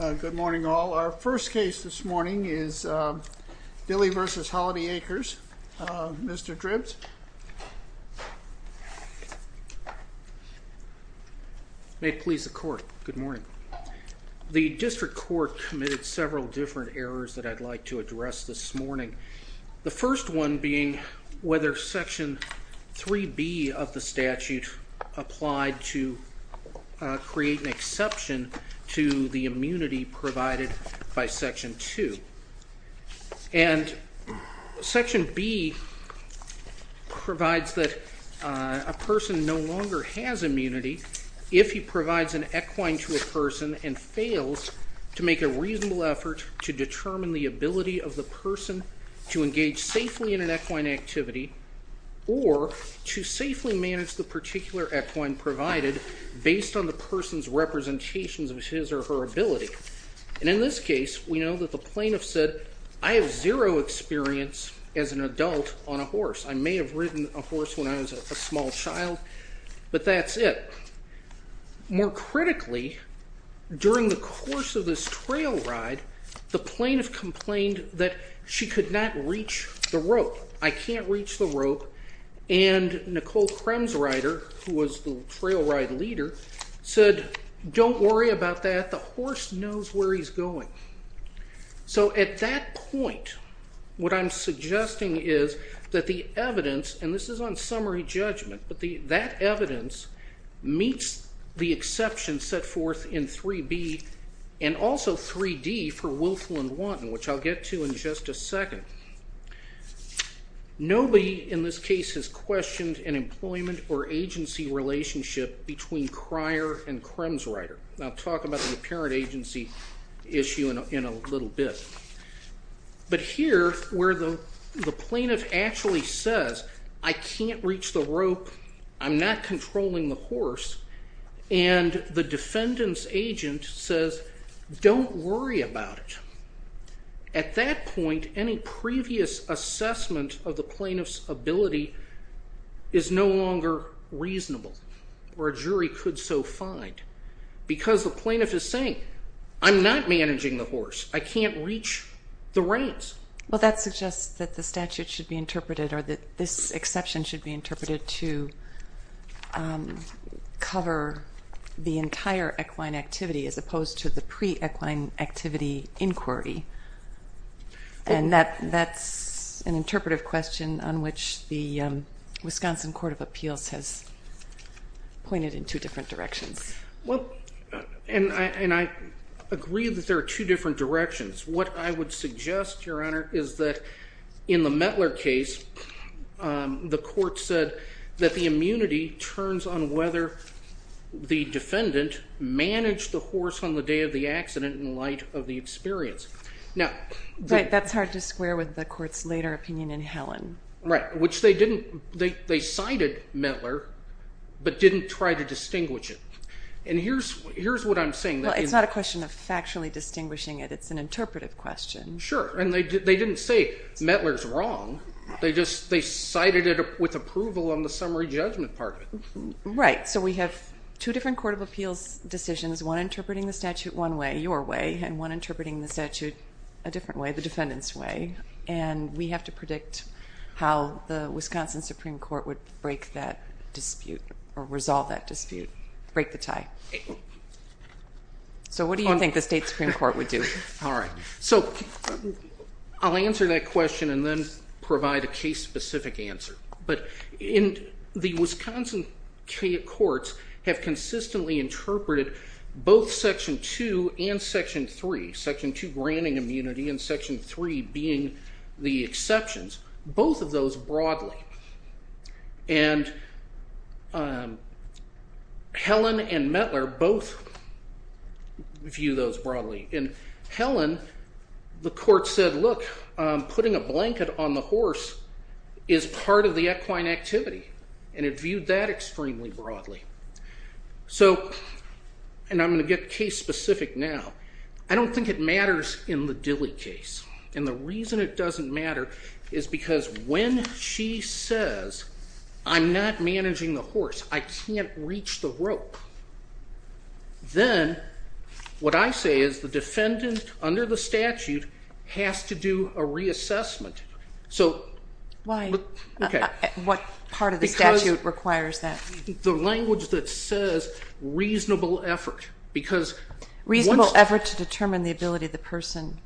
Good morning all. Our first case this morning is Dilley v. Holiday Acres. Mr. Dribbs. May it please the court. Good morning. The District Court committed several different errors that I'd like to address this morning. The first one being whether Section 3B of the statute applied to create an exception to the immunity provided by Section 2. And Section B provides that a person no longer has immunity if he provides an equine to a person and fails to make a reasonable effort to determine the ability of the person to engage safely in an equine activity or to safely manage the particular equine provided based on the person's representations of his or her ability. And in this case, we know that the plaintiff said, I have zero experience as an adult on a horse. I may have ridden a horse when I was a small child, but that's it. More critically, during the course of this trail ride, the plaintiff complained that she could not reach the rope. I can't reach the rope. And Nicole Kremsrider, who was the trail ride leader, said, don't worry about that. The horse knows where he's going. So at that point, what I'm suggesting is that the evidence, and this is on summary judgment, but that evidence meets the exception set forth in 3B and also 3D for Willful and Wanton, which I'll get to in just a second. Nobody in this case has questioned an employment or agency relationship between Cryer and Kremsrider. I'll talk about the apparent agency issue in a little bit. But here, where the plaintiff actually says, I can't reach the rope, I'm not controlling the horse, and the defendant's agent says, don't worry about it. At that point, any previous assessment of the plaintiff's ability is no longer reasonable, or a jury could so find, because the plaintiff is saying, I'm not managing the horse. I can't reach the reins. Well, that suggests that the statute should be interpreted, or that this exception should be interpreted to cover the entire equine activity as opposed to the pre-equine activity inquiry. And that's an interpretive question on which the Wisconsin Court of Appeals has pointed in two different directions. Well, and I agree that there are two different directions. What I would suggest, Your Honor, is that in the Mettler case, the court said that the immunity turns on whether the defendant managed the horse on the day of the accident in light of the experience. Right, that's hard to square with the court's later opinion in Helen. Right, which they cited Mettler, but didn't try to distinguish it. And here's what I'm saying. Well, it's not a question of factually distinguishing it. It's an interpretive question. Sure, and they didn't say Mettler's wrong. They cited it with approval on the summary judgment part of it. Right, so we have two different Court of Appeals decisions, one interpreting the statute one way, your way, and one interpreting the statute a different way, the defendant's way. And we have to predict how the Wisconsin Supreme Court would break that dispute, or resolve that dispute, break the tie. So what do you think the state Supreme Court would do? All right, so I'll answer that question and then provide a case-specific answer. But the Wisconsin courts have consistently interpreted both Section 2 and Section 3, Section 2 granting Immunity and Section 3 being the exceptions, both of those broadly. And Helen and Mettler both view those broadly. And Helen, the court said, look, putting a blanket on the horse is part of the equine activity. And it viewed that extremely broadly. So, and I'm going to get case-specific now, I don't think it matters in the Dilley case. And the reason it doesn't matter is because when she says, I'm not managing the horse, I can't reach the rope, then what I say is the defendant under the statute has to do a reassessment. Why? What part of the statute requires that? The language that says reasonable effort, because... Reasonable effort to determine the ability of the person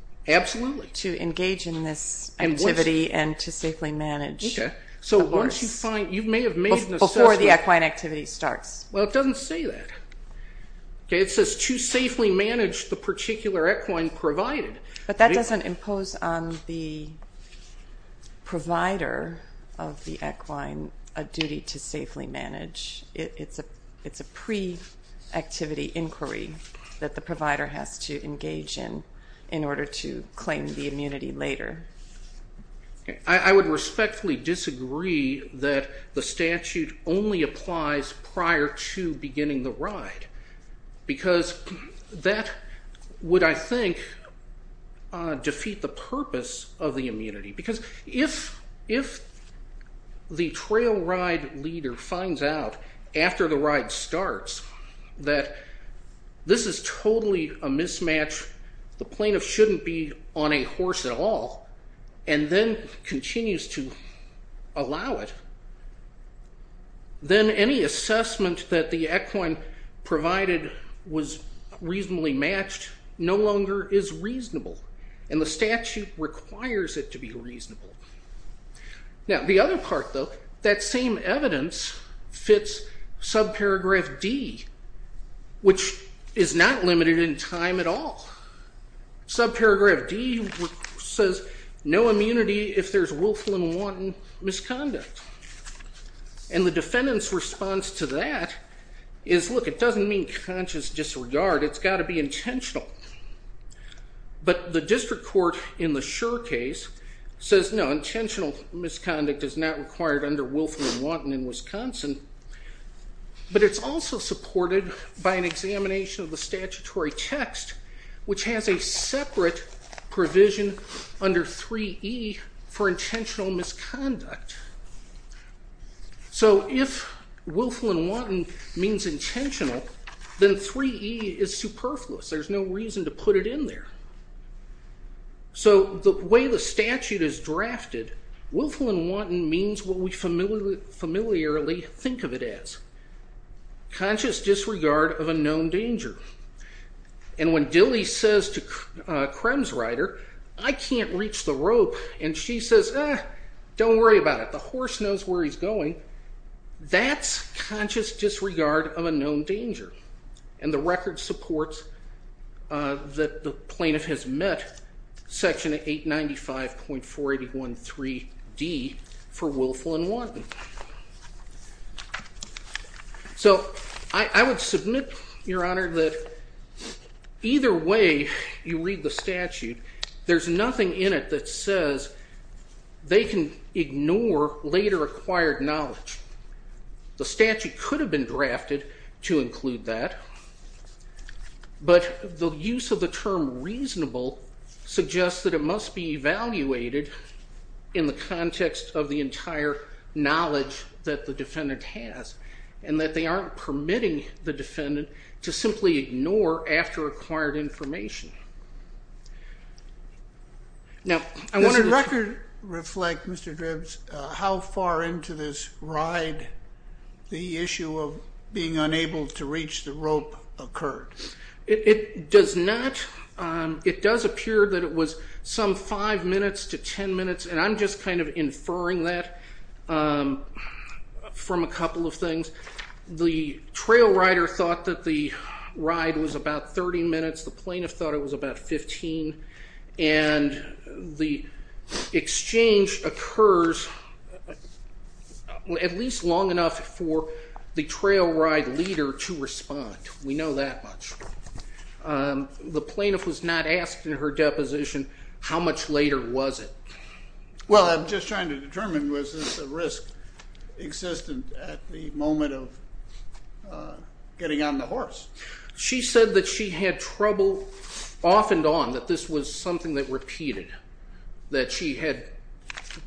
to engage in this activity and to safely manage the horse. So once you find, you may have made an assessment... Before the equine activity starts. Well, it doesn't say that. It says to safely manage the particular equine provided. But that doesn't impose on the provider of the equine a duty to safely manage. It's a pre-activity inquiry that the provider has to engage in in order to claim the immunity later. I would respectfully disagree that the statute only applies prior to beginning the ride. Because that would, I think, defeat the purpose of the immunity. Because if the trail ride leader finds out after the ride starts that this is totally a mismatch, the plaintiff shouldn't be on a horse at all, and then continues to allow it. Then any assessment that the equine provided was reasonably matched no longer is reasonable. And the statute requires it to be reasonable. Now, the other part, though, that same evidence fits subparagraph D, which is not limited in time at all. Subparagraph D says no immunity if there's willful and wanton misconduct. And the defendant's response to that is, look, it doesn't mean conscious disregard. It's got to be intentional. But the district court in the Scher case says no, intentional misconduct is not required under willful and wanton in Wisconsin. But it's also supported by an examination of the statutory text, which has a separate provision under 3E for intentional misconduct. So if willful and wanton means intentional, then 3E is superfluous. There's no reason to put it in there. So the way the statute is drafted, willful and wanton means what we familiarly think of it as, conscious disregard of a known danger. And when Dilley says to Kremsreiter, I can't reach the rope, and she says, don't worry about it. The horse knows where he's going. That's conscious disregard of a known danger. And the record supports that the plaintiff has met section 895.481.3D for willful and wanton. So I would submit, Your Honor, that either way you read the statute, there's nothing in it that says they can ignore later acquired knowledge. The statute could have been drafted to include that. But the use of the term reasonable suggests that it must be evaluated in the context of the entire knowledge that the defendant has, and that they aren't permitting the defendant to simply ignore after acquired information. Does the record reflect, Mr. Dribbs, how far into this ride the issue of being unable to reach the rope occurred? It does not. It does appear that it was some five minutes to 10 minutes. And I'm just kind of inferring that from a couple of things. The trail rider thought that the ride was about 30 minutes. The plaintiff thought it was about 15. And the exchange occurs at least long enough for the trail ride leader to respond. We know that much. The plaintiff was not asked in her deposition how much later was it. Well, I'm just trying to determine was this a risk existent at the moment of getting on the horse. She said that she had trouble off and on, that this was something that repeated. That she had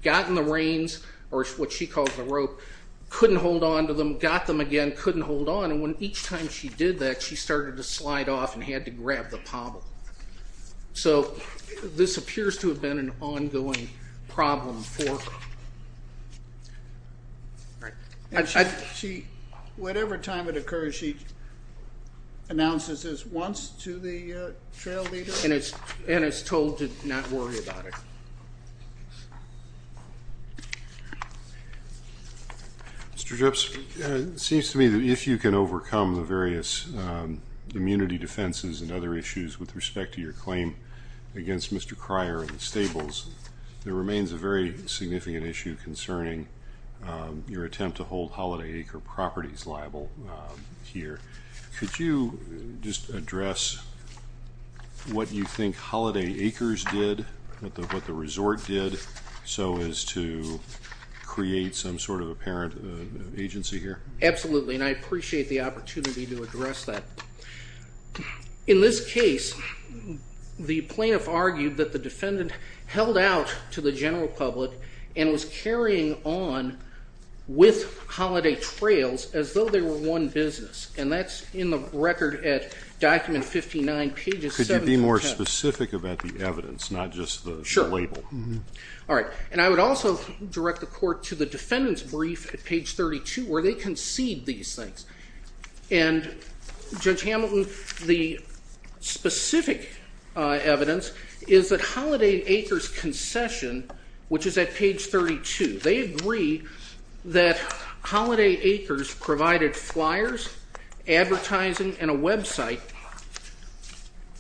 gotten the reins, or what she called the rope, couldn't hold on to them, got them again, couldn't hold on. And each time she did that, she started to slide off and had to grab the pobble. So this appears to have been an ongoing problem for her. Right. And she, whatever time it occurs, she announces this once to the trail leader? And is told to not worry about it. Mr. Gips, it seems to me that if you can overcome the various immunity defenses and other issues with respect to your claim against Mr. Cryer and the stables, there remains a very significant issue concerning your attempt to hold Holiday Acre properties liable here. Could you just address what you think Holiday Acres did, what the resort did, so as to create some sort of apparent agency here? Absolutely, and I appreciate the opportunity to address that. In this case, the plaintiff argued that the defendant held out to the general public and was carrying on with Holiday Trails as though they were one business, and that's in the record at document 59, page 77. Could you be more specific about the evidence, not just the label? Sure. All right. And I would also direct the court to the defendant's brief at page 32, where they concede these things. And, Judge Hamilton, the specific evidence is that Holiday Acres' concession, which is at page 32, they agree that Holiday Acres provided flyers, advertising, and a website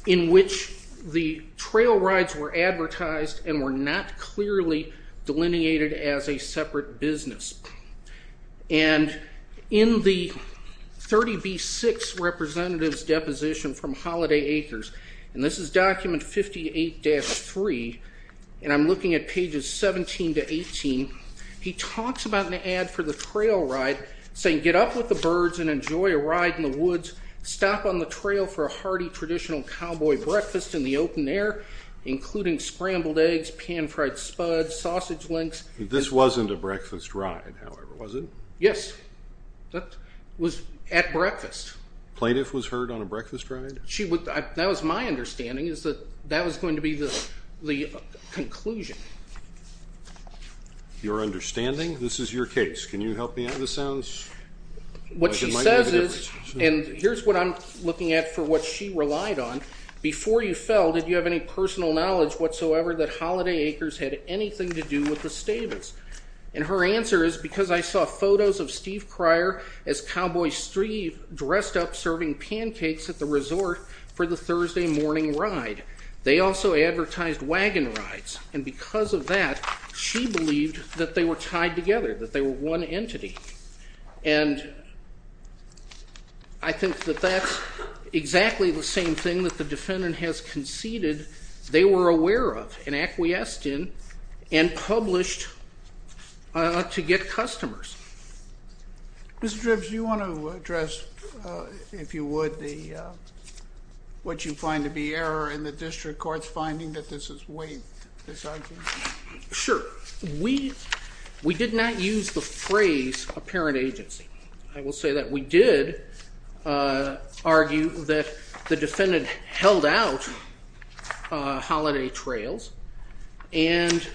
in which the trail rides were advertised and were not clearly delineated as a separate business. And in the 30B-6 representative's deposition from Holiday Acres, and this is document 58-3, and I'm looking at pages 17 to 18, he talks about an ad for the trail ride saying, Get up with the birds and enjoy a ride in the woods. Stop on the trail for a hearty, traditional cowboy breakfast in the open air, including scrambled eggs, pan-fried spuds, sausage links. This wasn't a breakfast ride, however, was it? Yes. That was at breakfast. Plaintiff was heard on a breakfast ride? That was my understanding is that that was going to be the conclusion. Your understanding? This is your case. Can you help me out? This sounds like it might make a difference. What she says is, and here's what I'm looking at for what she relied on, Before you fell, did you have any personal knowledge whatsoever that Holiday Acres had anything to do with the Stavis? And her answer is, because I saw photos of Steve Cryer as Cowboy Streeve dressed up, serving pancakes at the resort for the Thursday morning ride. They also advertised wagon rides, and because of that, she believed that they were tied together, that they were one entity. And I think that that's exactly the same thing that the defendant has conceded they were aware of, and acquiesced in, and published to get customers. Mr. Dribbs, do you want to address, if you would, what you find to be error in the district court's finding that this is weight, this argument? Sure. We did not use the phrase apparent agency. I will say that we did argue that the defendant held out Holiday Trails, and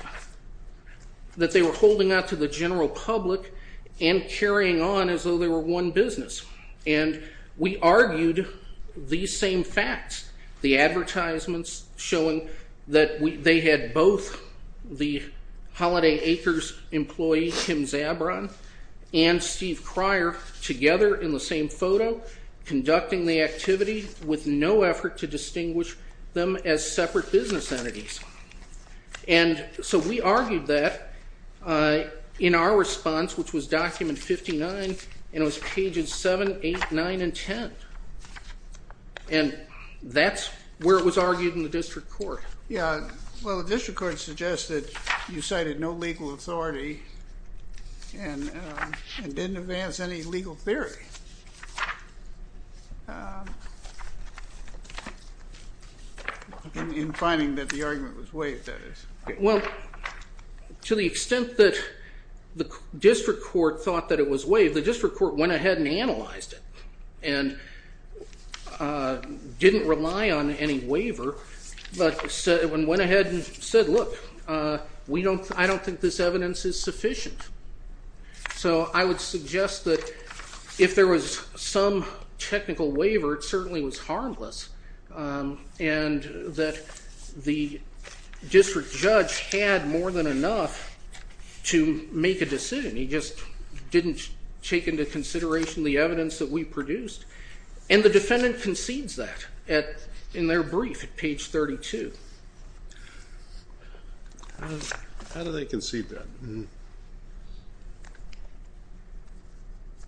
that they were holding out to the general public and carrying on as though they were one business. And we argued these same facts. The advertisements showing that they had both the Holiday Acres employee, Kim Zabron, and Steve Cryer together in the same photo, conducting the activity with no effort to distinguish them as separate business entities. And so we argued that in our response, which was document 59, and it was pages 7, 8, 9, and 10. And that's where it was argued in the district court. Yeah. Well, the district court suggested you cited no legal authority and didn't advance any legal theory in finding that the argument was waived, that is. Well, to the extent that the district court thought that it was waived, the district court went ahead and analyzed it and didn't rely on any waiver, but went ahead and said, look, I don't think this evidence is sufficient. So I would suggest that if there was some technical waiver, it certainly was harmless, and that the district judge had more than enough to make a decision. He just didn't take into consideration the evidence that we produced. And the defendant concedes that in their brief at page 32. How do they concede that?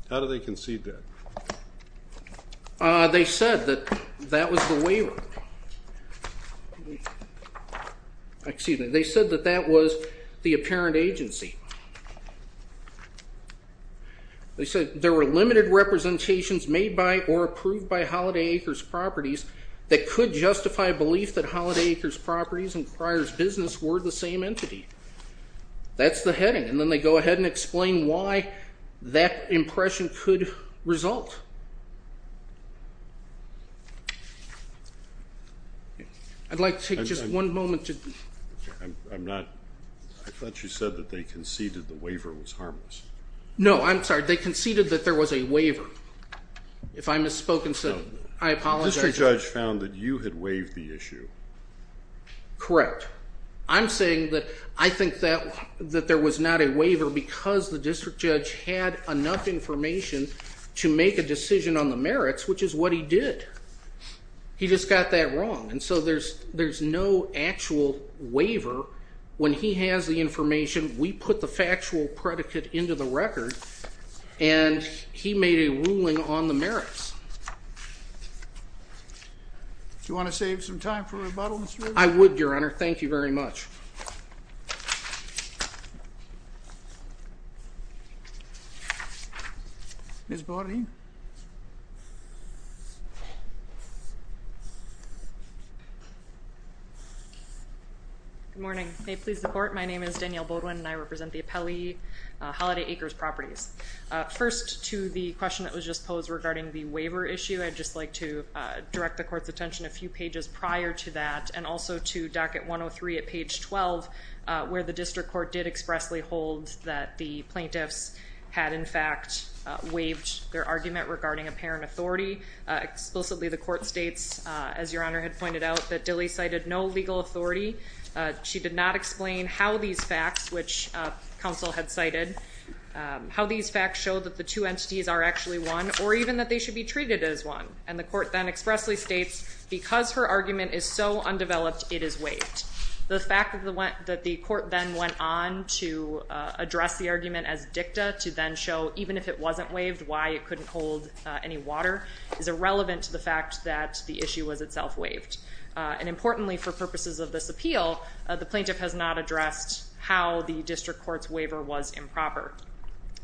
How do they concede that? They said that that was the waiver. Excuse me. They said that that was the apparent agency. They said there were limited representations made by or approved by Holiday Acres Properties that could justify belief that Holiday Acres Properties and Cryer's Business were the same entity. That's the heading. And then they go ahead and explain why that impression could result. I'd like to take just one moment to. I'm not. I thought you said that they conceded the waiver was harmless. No, I'm sorry. They conceded that there was a waiver. If I misspoken, I apologize. The district judge found that you had waived the issue. Correct. I'm saying that I think that there was not a waiver because the district judge had enough information to make a decision on the merits, which is what he did. He just got that wrong. And so there's no actual waiver. When he has the information, we put the factual predicate into the record, and he made a ruling on the merits. Do you want to save some time for rebuttal? I would, Your Honor. Thank you very much. Ms. Bordy. Good morning. May it please the Court, my name is Danielle Bordy, and I represent the appellee, Holiday Acres Properties. First, to the question that was just posed regarding the waiver issue, I'd just like to direct the Court's attention a few pages prior to that, and also to docket 103 at page 12, where the district court did expressly hold that the plaintiffs had in fact waived their argument regarding apparent authority. Explicitly, the Court states, as Your Honor had pointed out, that Dilley cited no legal authority. She did not explain how these facts, which counsel had cited, how these facts show that the two entities are actually one, or even that they should be treated as one. And the Court then expressly states, because her argument is so undeveloped, it is waived. The fact that the Court then went on to address the argument as dicta to then show, even if it wasn't waived, why it couldn't hold any water is irrelevant to the fact that the issue was itself waived. And importantly, for purposes of this appeal, the plaintiff has not addressed how the district court's waiver was improper.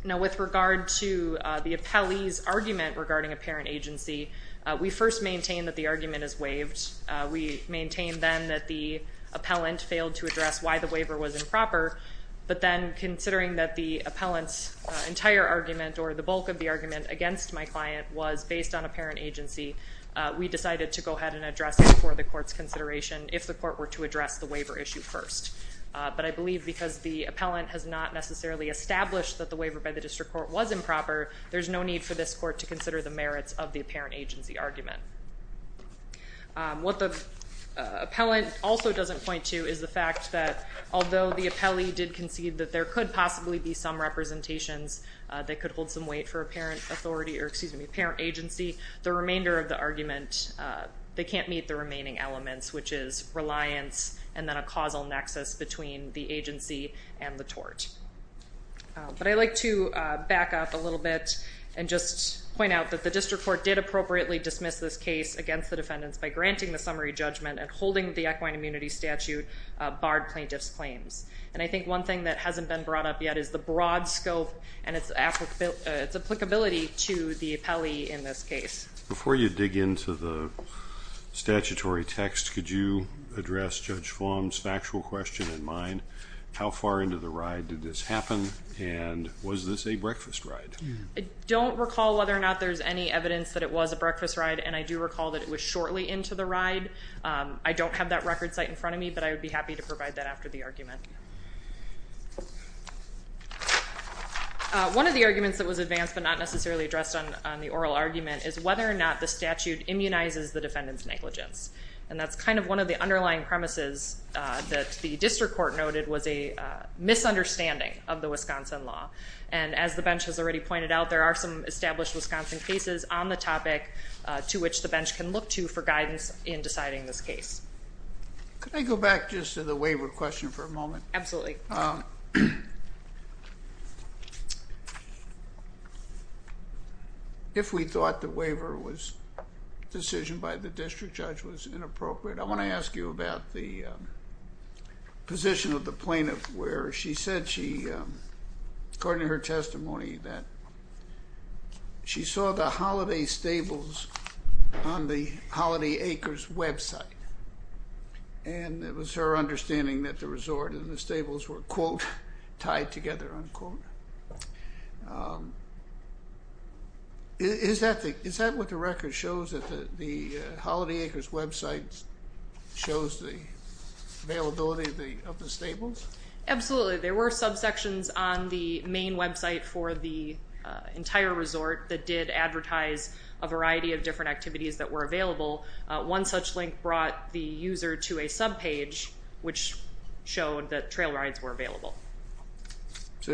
Now, with regard to the appellee's argument regarding apparent agency, we first maintain that the argument is waived. We maintain then that the appellant failed to address why the waiver was improper. But then, considering that the appellant's entire argument or the bulk of the argument against my client was based on apparent agency, we decided to go ahead and address it before the Court's consideration, if the Court were to address the waiver issue first. But I believe because the appellant has not necessarily established that the waiver by the district court was improper, there's no need for this Court to consider the merits of the apparent agency argument. What the appellant also doesn't point to is the fact that, although the appellee did concede that there could possibly be some representations that could hold some weight for apparent authority or, excuse me, apparent agency, the remainder of the argument, they can't meet the remaining elements, which is reliance and then a causal nexus between the agency and the tort. But I'd like to back up a little bit and just point out that the district court did appropriately dismiss this case against the defendants by granting the summary judgment and holding the equine immunity statute barred plaintiff's claims. And I think one thing that hasn't been brought up yet is the broad scope and its applicability to the appellee in this case. Before you dig into the statutory text, could you address Judge Flom's factual question in mind? How far into the ride did this happen, and was this a breakfast ride? I don't recall whether or not there's any evidence that it was a breakfast ride, and I do recall that it was shortly into the ride. I don't have that record site in front of me, but I would be happy to provide that after the argument. One of the arguments that was advanced but not necessarily addressed on the oral argument is whether or not the statute immunizes the defendant's negligence. And that's kind of one of the underlying premises that the district court noted was a misunderstanding of the Wisconsin law. And as the bench has already pointed out, there are some established Wisconsin cases on the topic to which the bench can look to for guidance in deciding this case. Could I go back just to the waiver question for a moment? Absolutely. If we thought the waiver decision by the district judge was inappropriate, I want to ask you about the position of the plaintiff where she said she, according to her testimony, that she saw the holiday stables on the Holiday Acres website, and it was her understanding that the resort and the stables were, quote, tied together, unquote. Is that what the record shows, that the Holiday Acres website shows the availability of the stables? Absolutely. There were subsections on the main website for the entire resort that did advertise a variety of different activities that were available. One such link brought the user to a subpage which showed that trail rides were available. So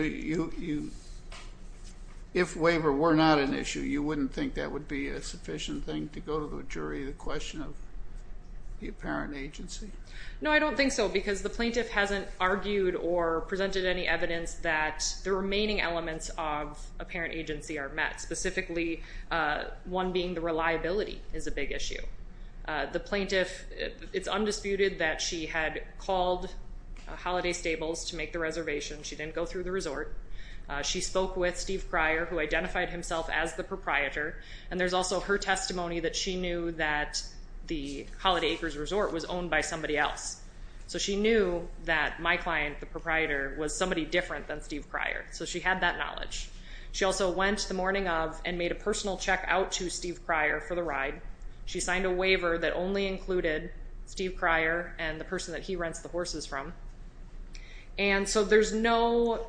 if waiver were not an issue, you wouldn't think that would be a sufficient thing to go to the jury, the question of the apparent agency? No, I don't think so, because the plaintiff hasn't argued or presented any evidence that the remaining elements of apparent agency are met, specifically one being the reliability is a big issue. The plaintiff, it's undisputed that she had called Holiday Stables to make the reservation. She didn't go through the resort. She spoke with Steve Cryer, who identified himself as the proprietor, and there's also her testimony that she knew that the Holiday Acres resort was owned by somebody else. So she knew that my client, the proprietor, was somebody different than Steve Cryer. So she had that knowledge. She also went the morning of and made a personal check out to Steve Cryer for the ride. She signed a waiver that only included Steve Cryer and the person that he rents the horses from. And so there's no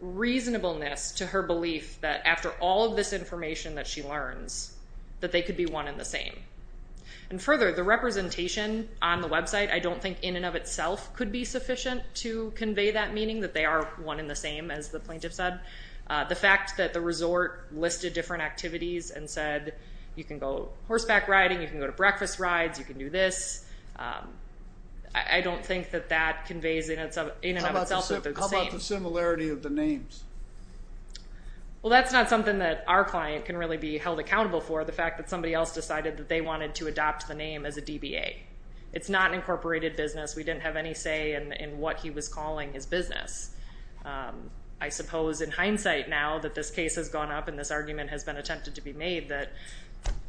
reasonableness to her belief that after all of this information that she learns, that they could be one in the same. And further, the representation on the website, I don't think in and of itself could be sufficient to convey that meaning, that they are one in the same, as the plaintiff said. The fact that the resort listed different activities and said, you can go horseback riding, you can go to breakfast rides, you can do this. I don't think that that conveys in and of itself that they're the same. How about the similarity of the names? Well, that's not something that our client can really be held accountable for, the fact that somebody else decided that they wanted to adopt the name as a DBA. It's not an incorporated business. We didn't have any say in what he was calling his business. I suppose in hindsight now that this case has gone up and this argument has been attempted to be made that,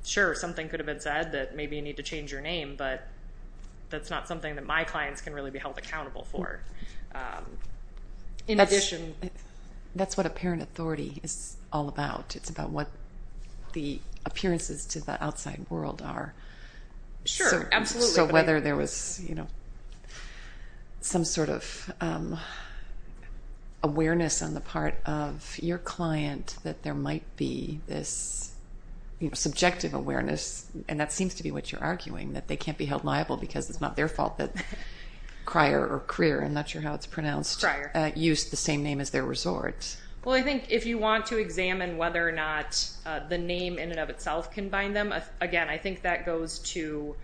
sure, something could have been said that maybe you need to change your name, but that's not something that my clients can really be held accountable for. In addition. That's what a parent authority is all about. It's about what the appearances to the outside world are. Sure, absolutely. So whether there was some sort of awareness on the part of your client that there might be this subjective awareness, and that seems to be what you're arguing, that they can't be held liable because it's not their fault that Cryer or Krier, I'm not sure how it's pronounced, used the same name as their resort. Well, I think if you want to examine whether or not the name in and of itself can bind them, again, I think that goes to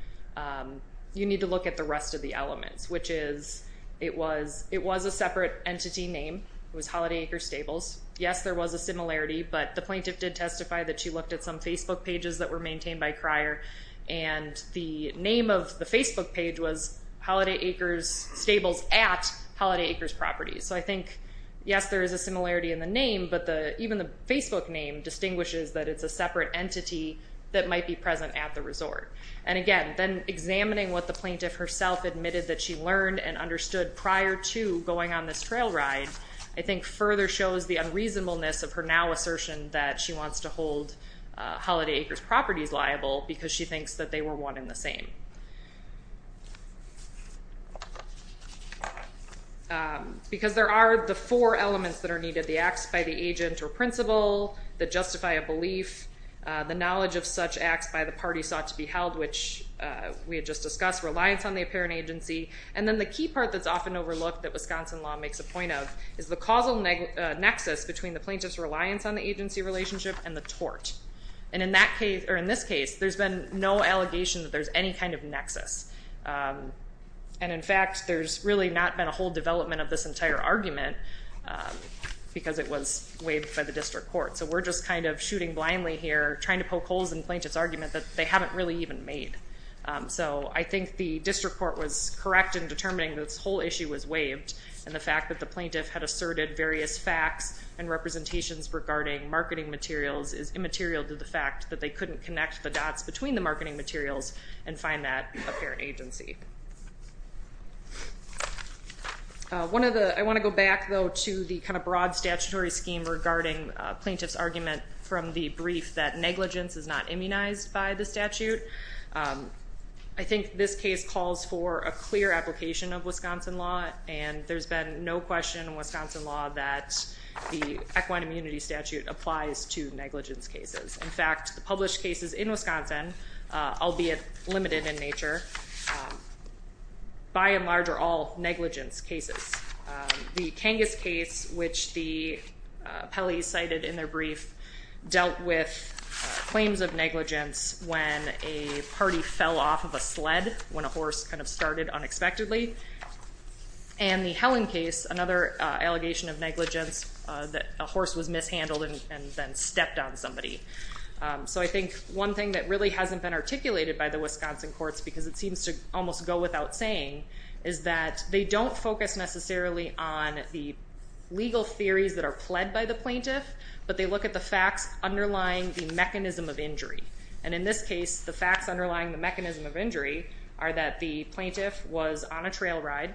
you need to look at the rest of the elements, which is it was a separate entity name. It was Holiday Acres Stables. Yes, there was a similarity, but the plaintiff did testify that she looked at some Facebook pages that were maintained by Cryer, and the name of the Facebook page was Holiday Acres Stables at Holiday Acres Properties. So I think, yes, there is a similarity in the name, but even the Facebook name distinguishes that it's a separate entity that might be present at the resort. And, again, then examining what the plaintiff herself admitted that she learned and understood prior to going on this trail ride, I think further shows the unreasonableness of her now assertion that she wants to hold Holiday Acres Properties liable because she thinks that they were one and the same. Because there are the four elements that are needed, the acts by the agent or principal that justify a belief, the knowledge of such acts by the party sought to be held, which we had just discussed, reliance on the apparent agency, and then the key part that's often overlooked that Wisconsin law makes a point of is the causal nexus between the plaintiff's reliance on the agency relationship and the tort. And in this case, there's been no allegation that there's any kind of nexus. And, in fact, there's really not been a whole development of this entire argument because it was waived by the district court. So we're just kind of shooting blindly here, trying to poke holes in the plaintiff's argument that they haven't really even made. So I think the district court was correct in determining this whole issue was waived and the fact that the plaintiff had asserted various facts and representations regarding marketing materials is immaterial to the fact that they couldn't connect the dots between the marketing materials and find that apparent agency. I want to go back, though, to the kind of broad statutory scheme regarding plaintiff's argument from the brief that negligence is not immunized by the statute. I think this case calls for a clear application of Wisconsin law, and there's been no question in Wisconsin law that the Equine Immunity Statute applies to negligence cases. In fact, the published cases in Wisconsin, albeit limited in nature, by and large are all negligence cases. The Kangas case, which the appellees cited in their brief, dealt with claims of negligence when a party fell off of a sled when a horse kind of started unexpectedly. And the Helen case, another allegation of negligence that a horse was mishandled and then stepped on somebody. So I think one thing that really hasn't been articulated by the Wisconsin courts, because it seems to almost go without saying, is that they don't focus necessarily on the legal theories that are pled by the plaintiff, but they look at the facts underlying the mechanism of injury. And in this case, the facts underlying the mechanism of injury are that the plaintiff was on a trail ride,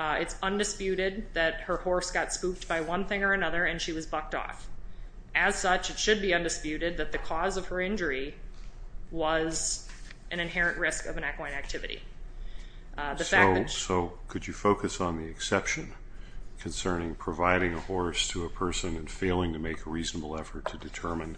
it's undisputed that her horse got spooked by one thing or another, and she was bucked off. As such, it should be undisputed that the cause of her injury was an inherent risk of an equine activity. So could you focus on the exception concerning providing a horse to a person and failing to make a reasonable effort to determine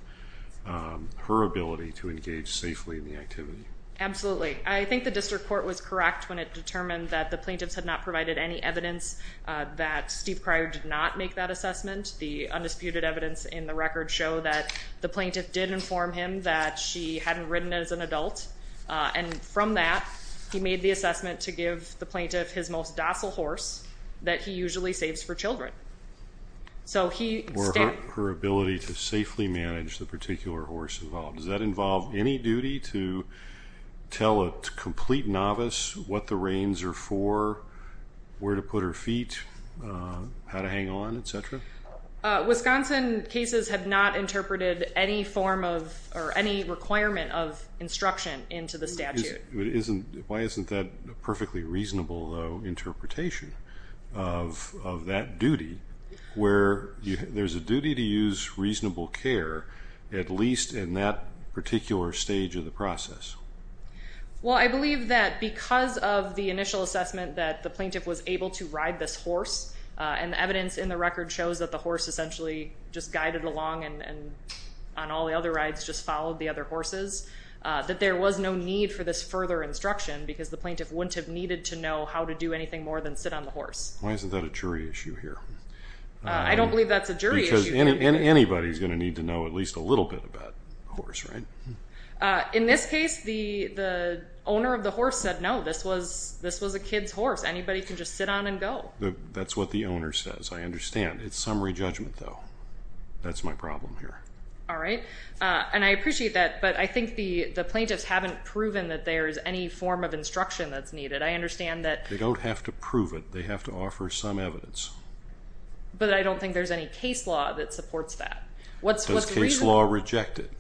her ability to engage safely in the activity? Absolutely. I think the district court was correct when it determined that the plaintiffs had not provided any evidence that Steve Cryer did not make that assessment. The undisputed evidence in the record show that the plaintiff did inform him that she hadn't ridden as an adult. And from that, he made the assessment to give the plaintiff his most docile horse that he usually saves for children. Or her ability to safely manage the particular horse involved. Does that involve any duty to tell a complete novice what the reins are for, where to put her feet, how to hang on, et cetera? Wisconsin cases have not interpreted any form of or any requirement of instruction into the statute. Why isn't that a perfectly reasonable interpretation of that duty, where there's a duty to use reasonable care at least in that particular stage of the process? Well, I believe that because of the initial assessment that the plaintiff was able to ride this horse and evidence in the record shows that the horse essentially just guided along and on all the other rides just followed the other horses, that there was no need for this further instruction because the plaintiff wouldn't have needed to know how to do anything more than sit on the horse. Why isn't that a jury issue here? I don't believe that's a jury issue. Because anybody's going to need to know at least a little bit about a horse, right? In this case, the owner of the horse said, no, this was a kid's horse. Anybody can just sit on and go. That's what the owner says, I understand. It's summary judgment, though. That's my problem here. All right. And I appreciate that, but I think the plaintiffs haven't proven that there's any form of instruction that's needed. I understand that... They don't have to prove it. They have to offer some evidence. But I don't think there's any case law that supports that. Does case law reject it?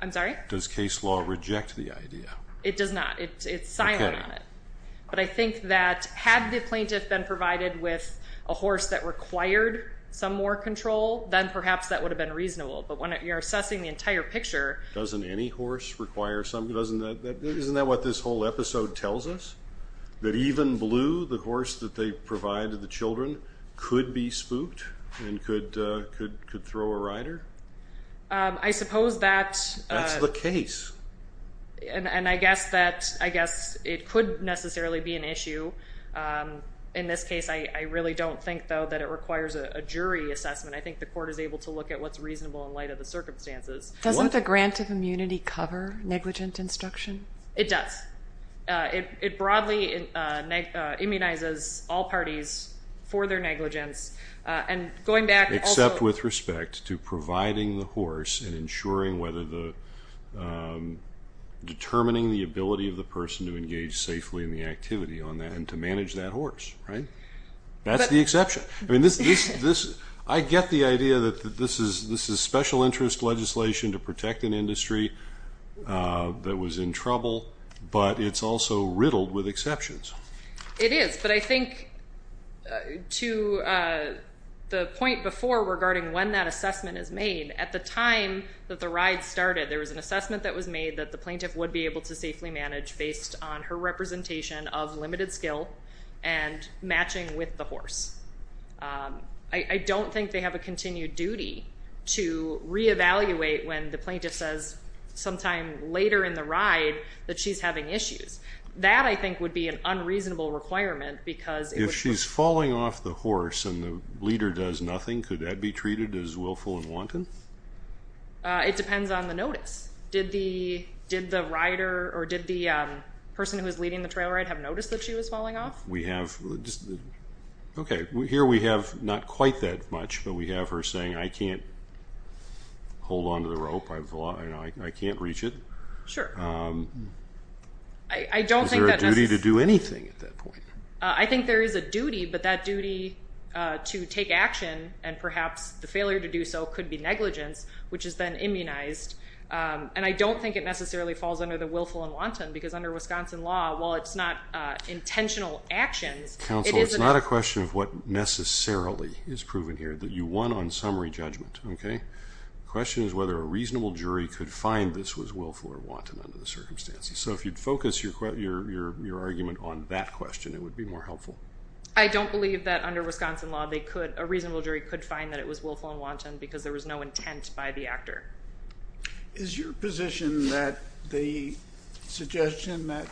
I'm sorry? Does case law reject the idea? It does not. It's silent on it. Okay. But I think that had the plaintiff been provided with a horse that required some more control, then perhaps that would have been reasonable. But when you're assessing the entire picture... Doesn't any horse require some? Isn't that what this whole episode tells us? That even Blue, the horse that they provide to the children, could be spooked and could throw a rider? I suppose that... That's the case. And I guess it could necessarily be an issue. In this case, I really don't think, though, that it requires a jury assessment. I think the court is able to look at what's reasonable in light of the circumstances. Doesn't the grant of immunity cover negligent instruction? It does. It broadly immunizes all parties for their negligence. And going back also... Except with respect to providing the horse and ensuring whether the... determining the ability of the person to engage safely in the activity on that and to manage that horse, right? That's the exception. I get the idea that this is special interest legislation to protect an industry that was in trouble, but it's also riddled with exceptions. It is. But I think to the point before regarding when that assessment is made, at the time that the ride started, there was an assessment that was made that the plaintiff would be able to safely manage based on her representation of limited skill and matching with the horse. I don't think they have a continued duty to reevaluate when the plaintiff says sometime later in the ride that she's having issues. That, I think, would be an unreasonable requirement because... If she's falling off the horse and the leader does nothing, could that be treated as willful and wanton? It depends on the notice. Did the rider or did the person who was leading the trail ride have noticed that she was falling off? We have... Okay, here we have not quite that much, but we have her saying, I can't hold onto the rope, I can't reach it. Sure. Is there a duty to do anything at that point? I think there is a duty, but that duty to take action and perhaps the failure to do so could be negligence, which is then immunized. And I don't think it necessarily falls under the willful and wanton because under Wisconsin law, while it's not intentional actions, it is an... Counsel, it's not a question of what necessarily is proven here, that you won on summary judgment, okay? The question is whether a reasonable jury could find this was willful or wanton under the circumstances. So if you'd focus your argument on that question, it would be more helpful. I don't believe that under Wisconsin law, a reasonable jury could find that it was willful and wanton because there was no intent by the actor. Is your position that the suggestion that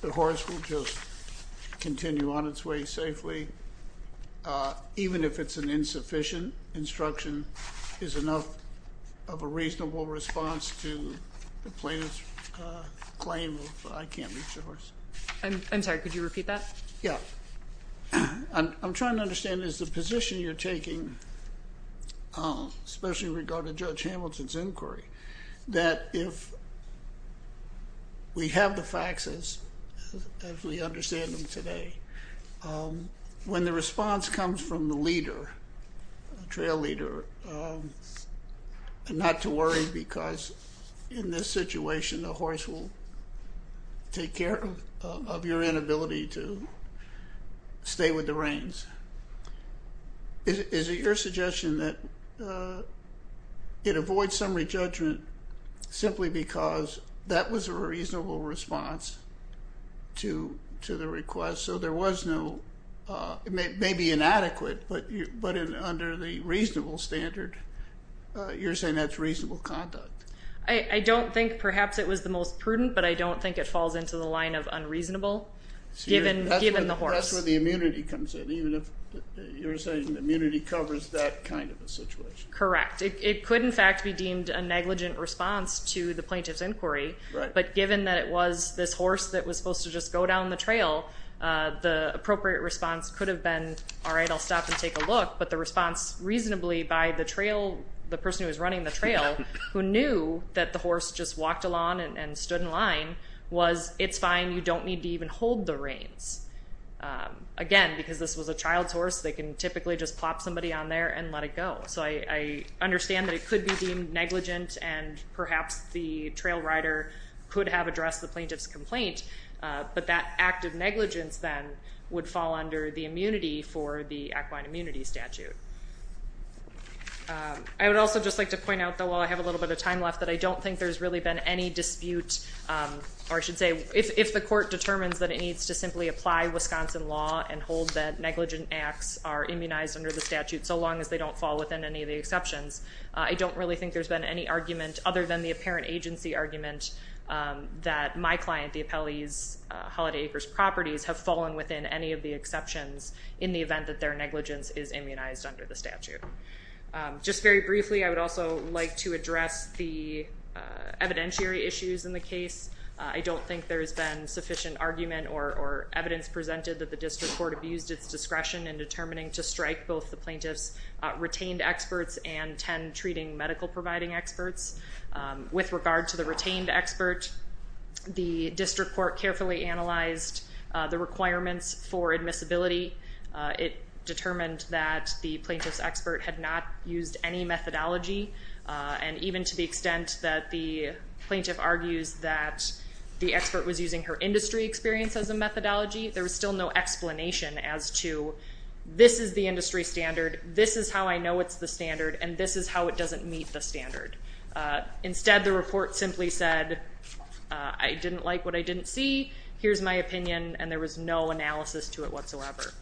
the horse will just continue on its way safely, even if it's an insufficient instruction, is enough of a reasonable response to the plaintiff's claim of I can't reach the horse? I'm sorry, could you repeat that? Yeah. I'm trying to understand is the position you're taking, especially with regard to Judge Hamilton's inquiry, that if we have the facts as we understand them today, when the response comes from the leader, the trail leader, not to worry because in this situation, the horse will take care of your inability to stay with the reins. Is it your suggestion that it avoids summary judgment simply because that was a reasonable response to the request? So there was no, it may be inadequate, but under the reasonable standard, you're saying that's reasonable conduct? I don't think perhaps it was the most prudent, but I don't think it falls into the line of unreasonable, given the horse. That's where the immunity comes in, even if you're saying immunity covers that kind of a situation. Correct. It could in fact be deemed a negligent response to the plaintiff's inquiry, but given that it was this horse that was supposed to just go down the trail, the appropriate response could have been, all right, I'll stop and take a look. But the response reasonably by the person who was running the trail, who knew that the horse just walked along and stood in line, was it's fine, you don't need to even hold the reins. Again, because this was a child's horse, they can typically just plop somebody on there and let it go. So I understand that it could be deemed negligent, and perhaps the trail rider could have addressed the plaintiff's complaint, but that act of negligence then would fall under the immunity for the Aquine Immunity Statute. I would also just like to point out, though, while I have a little bit of time left, that I don't think there's really been any dispute, or I should say, if the court determines that it needs to simply apply Wisconsin law and hold that negligent acts are immunized under the statute, so long as they don't fall within any of the exceptions, I don't really think there's been any argument other than the apparent agency argument that my client, the appellee's Holiday Acres properties, have fallen within any of the exceptions in the event that their negligence is immunized under the statute. Just very briefly, I would also like to address the evidentiary issues in the case. I don't think there's been sufficient argument or evidence presented that the district court abused its discretion in determining to strike both the plaintiff's retained experts and 10 treating medical providing experts. With regard to the retained expert, the district court carefully analyzed the requirements for admissibility. It determined that the plaintiff's expert had not used any methodology, and even to the extent that the plaintiff argues that the expert was using her industry experience as a methodology, there was still no explanation as to, this is the industry standard, this is how I know it's the standard, and this is how it doesn't meet the standard. Instead, the report simply said, I didn't like what I didn't see, here's my opinion, and there was no analysis to it whatsoever.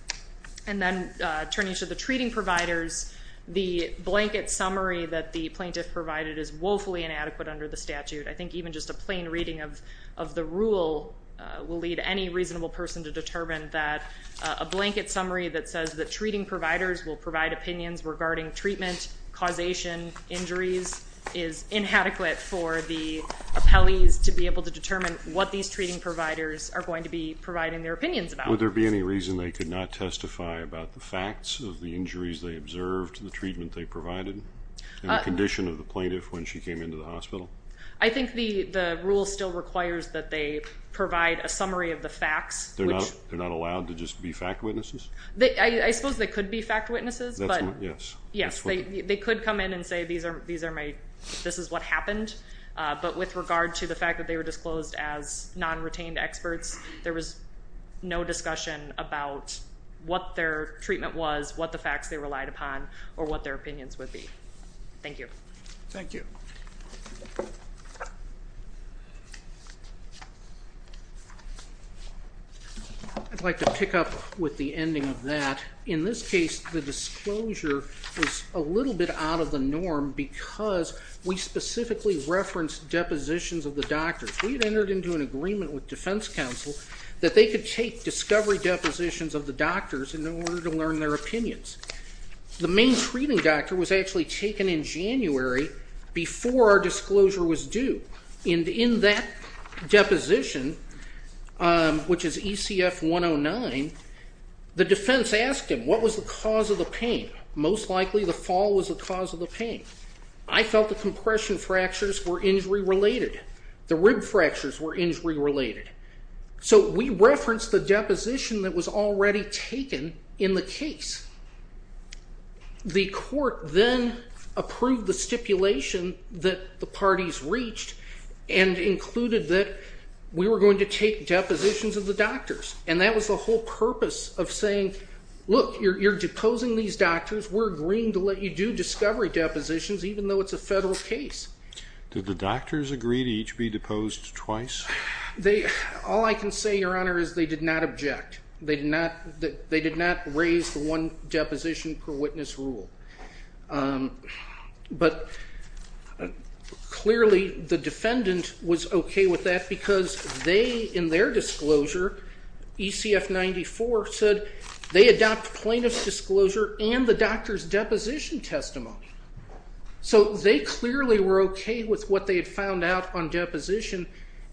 And then turning to the treating providers, the blanket summary that the plaintiff provided is woefully inadequate under the statute. I think even just a plain reading of the rule will lead any reasonable person to determine that a blanket summary that says that treating providers will provide opinions regarding treatment, causation, injuries, is inadequate for the appellees to be able to determine what these treating providers are going to be providing their opinions about. Would there be any reason they could not testify about the facts of the injuries they observed, the treatment they provided, and the condition of the plaintiff when she came into the hospital? I think the rule still requires that they provide a summary of the facts. They're not allowed to just be fact witnesses? I suppose they could be fact witnesses. Yes. Yes, they could come in and say this is what happened, but with regard to the fact that they were disclosed as non-retained experts, there was no discussion about what their treatment was, what the facts they relied upon, or what their opinions would be. Thank you. Thank you. I'd like to pick up with the ending of that. In this case, the disclosure was a little bit out of the norm because we specifically referenced depositions of the doctors. We had entered into an agreement with defense counsel that they could take discovery depositions of the doctors in order to learn their opinions. The main treating doctor was actually taken in January before our disclosure was due, and in that deposition, which is ECF 109, the defense asked him, what was the cause of the pain? Most likely the fall was the cause of the pain. I felt the compression fractures were injury-related. The rib fractures were injury-related. So we referenced the deposition that was already taken in the case. The court then approved the stipulation that the parties reached and included that we were going to take depositions of the doctors, and that was the whole purpose of saying, look, you're deposing these doctors. We're agreeing to let you do discovery depositions, even though it's a federal case. Did the doctors agree to each be deposed twice? All I can say, Your Honor, is they did not object. They did not raise the one deposition per witness rule. But clearly the defendant was okay with that because they, in their disclosure, ECF 94 said they adopt plaintiff's disclosure and the doctor's deposition testimony. So they clearly were okay with what they had found out on deposition,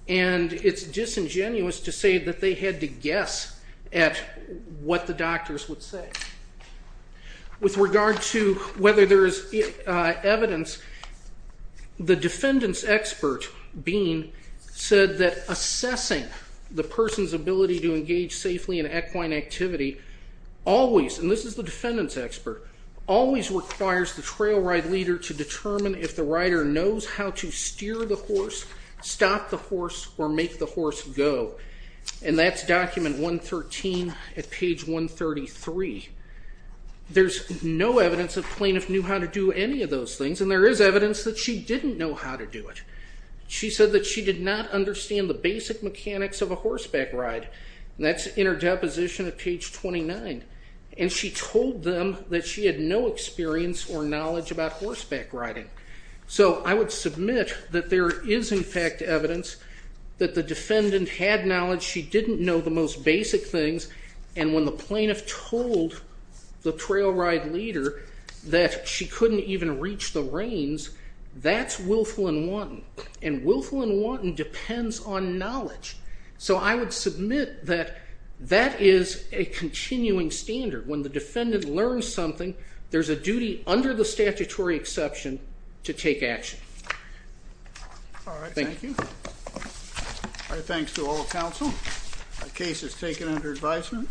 and it's disingenuous to say that they had to guess at what the doctors would say. With regard to whether there is evidence, the defendant's expert, Bean, said that assessing the person's ability to engage safely in equine activity always, requires the trail ride leader to determine if the rider knows how to steer the horse, stop the horse, or make the horse go. And that's document 113 at page 133. There's no evidence that plaintiff knew how to do any of those things, and there is evidence that she didn't know how to do it. She said that she did not understand the basic mechanics of a horseback ride, and that's in her deposition at page 29. And she told them that she had no experience or knowledge about horseback riding. So I would submit that there is, in fact, evidence that the defendant had knowledge. She didn't know the most basic things, and when the plaintiff told the trail ride leader that she couldn't even reach the reins, that's willful and wanton, and willful and wanton depends on knowledge. So I would submit that that is a continuing standard. When the defendant learns something, there's a duty under the statutory exception to take action. All right, thank you. All right, thanks to all counsel. The case is taken under advisement.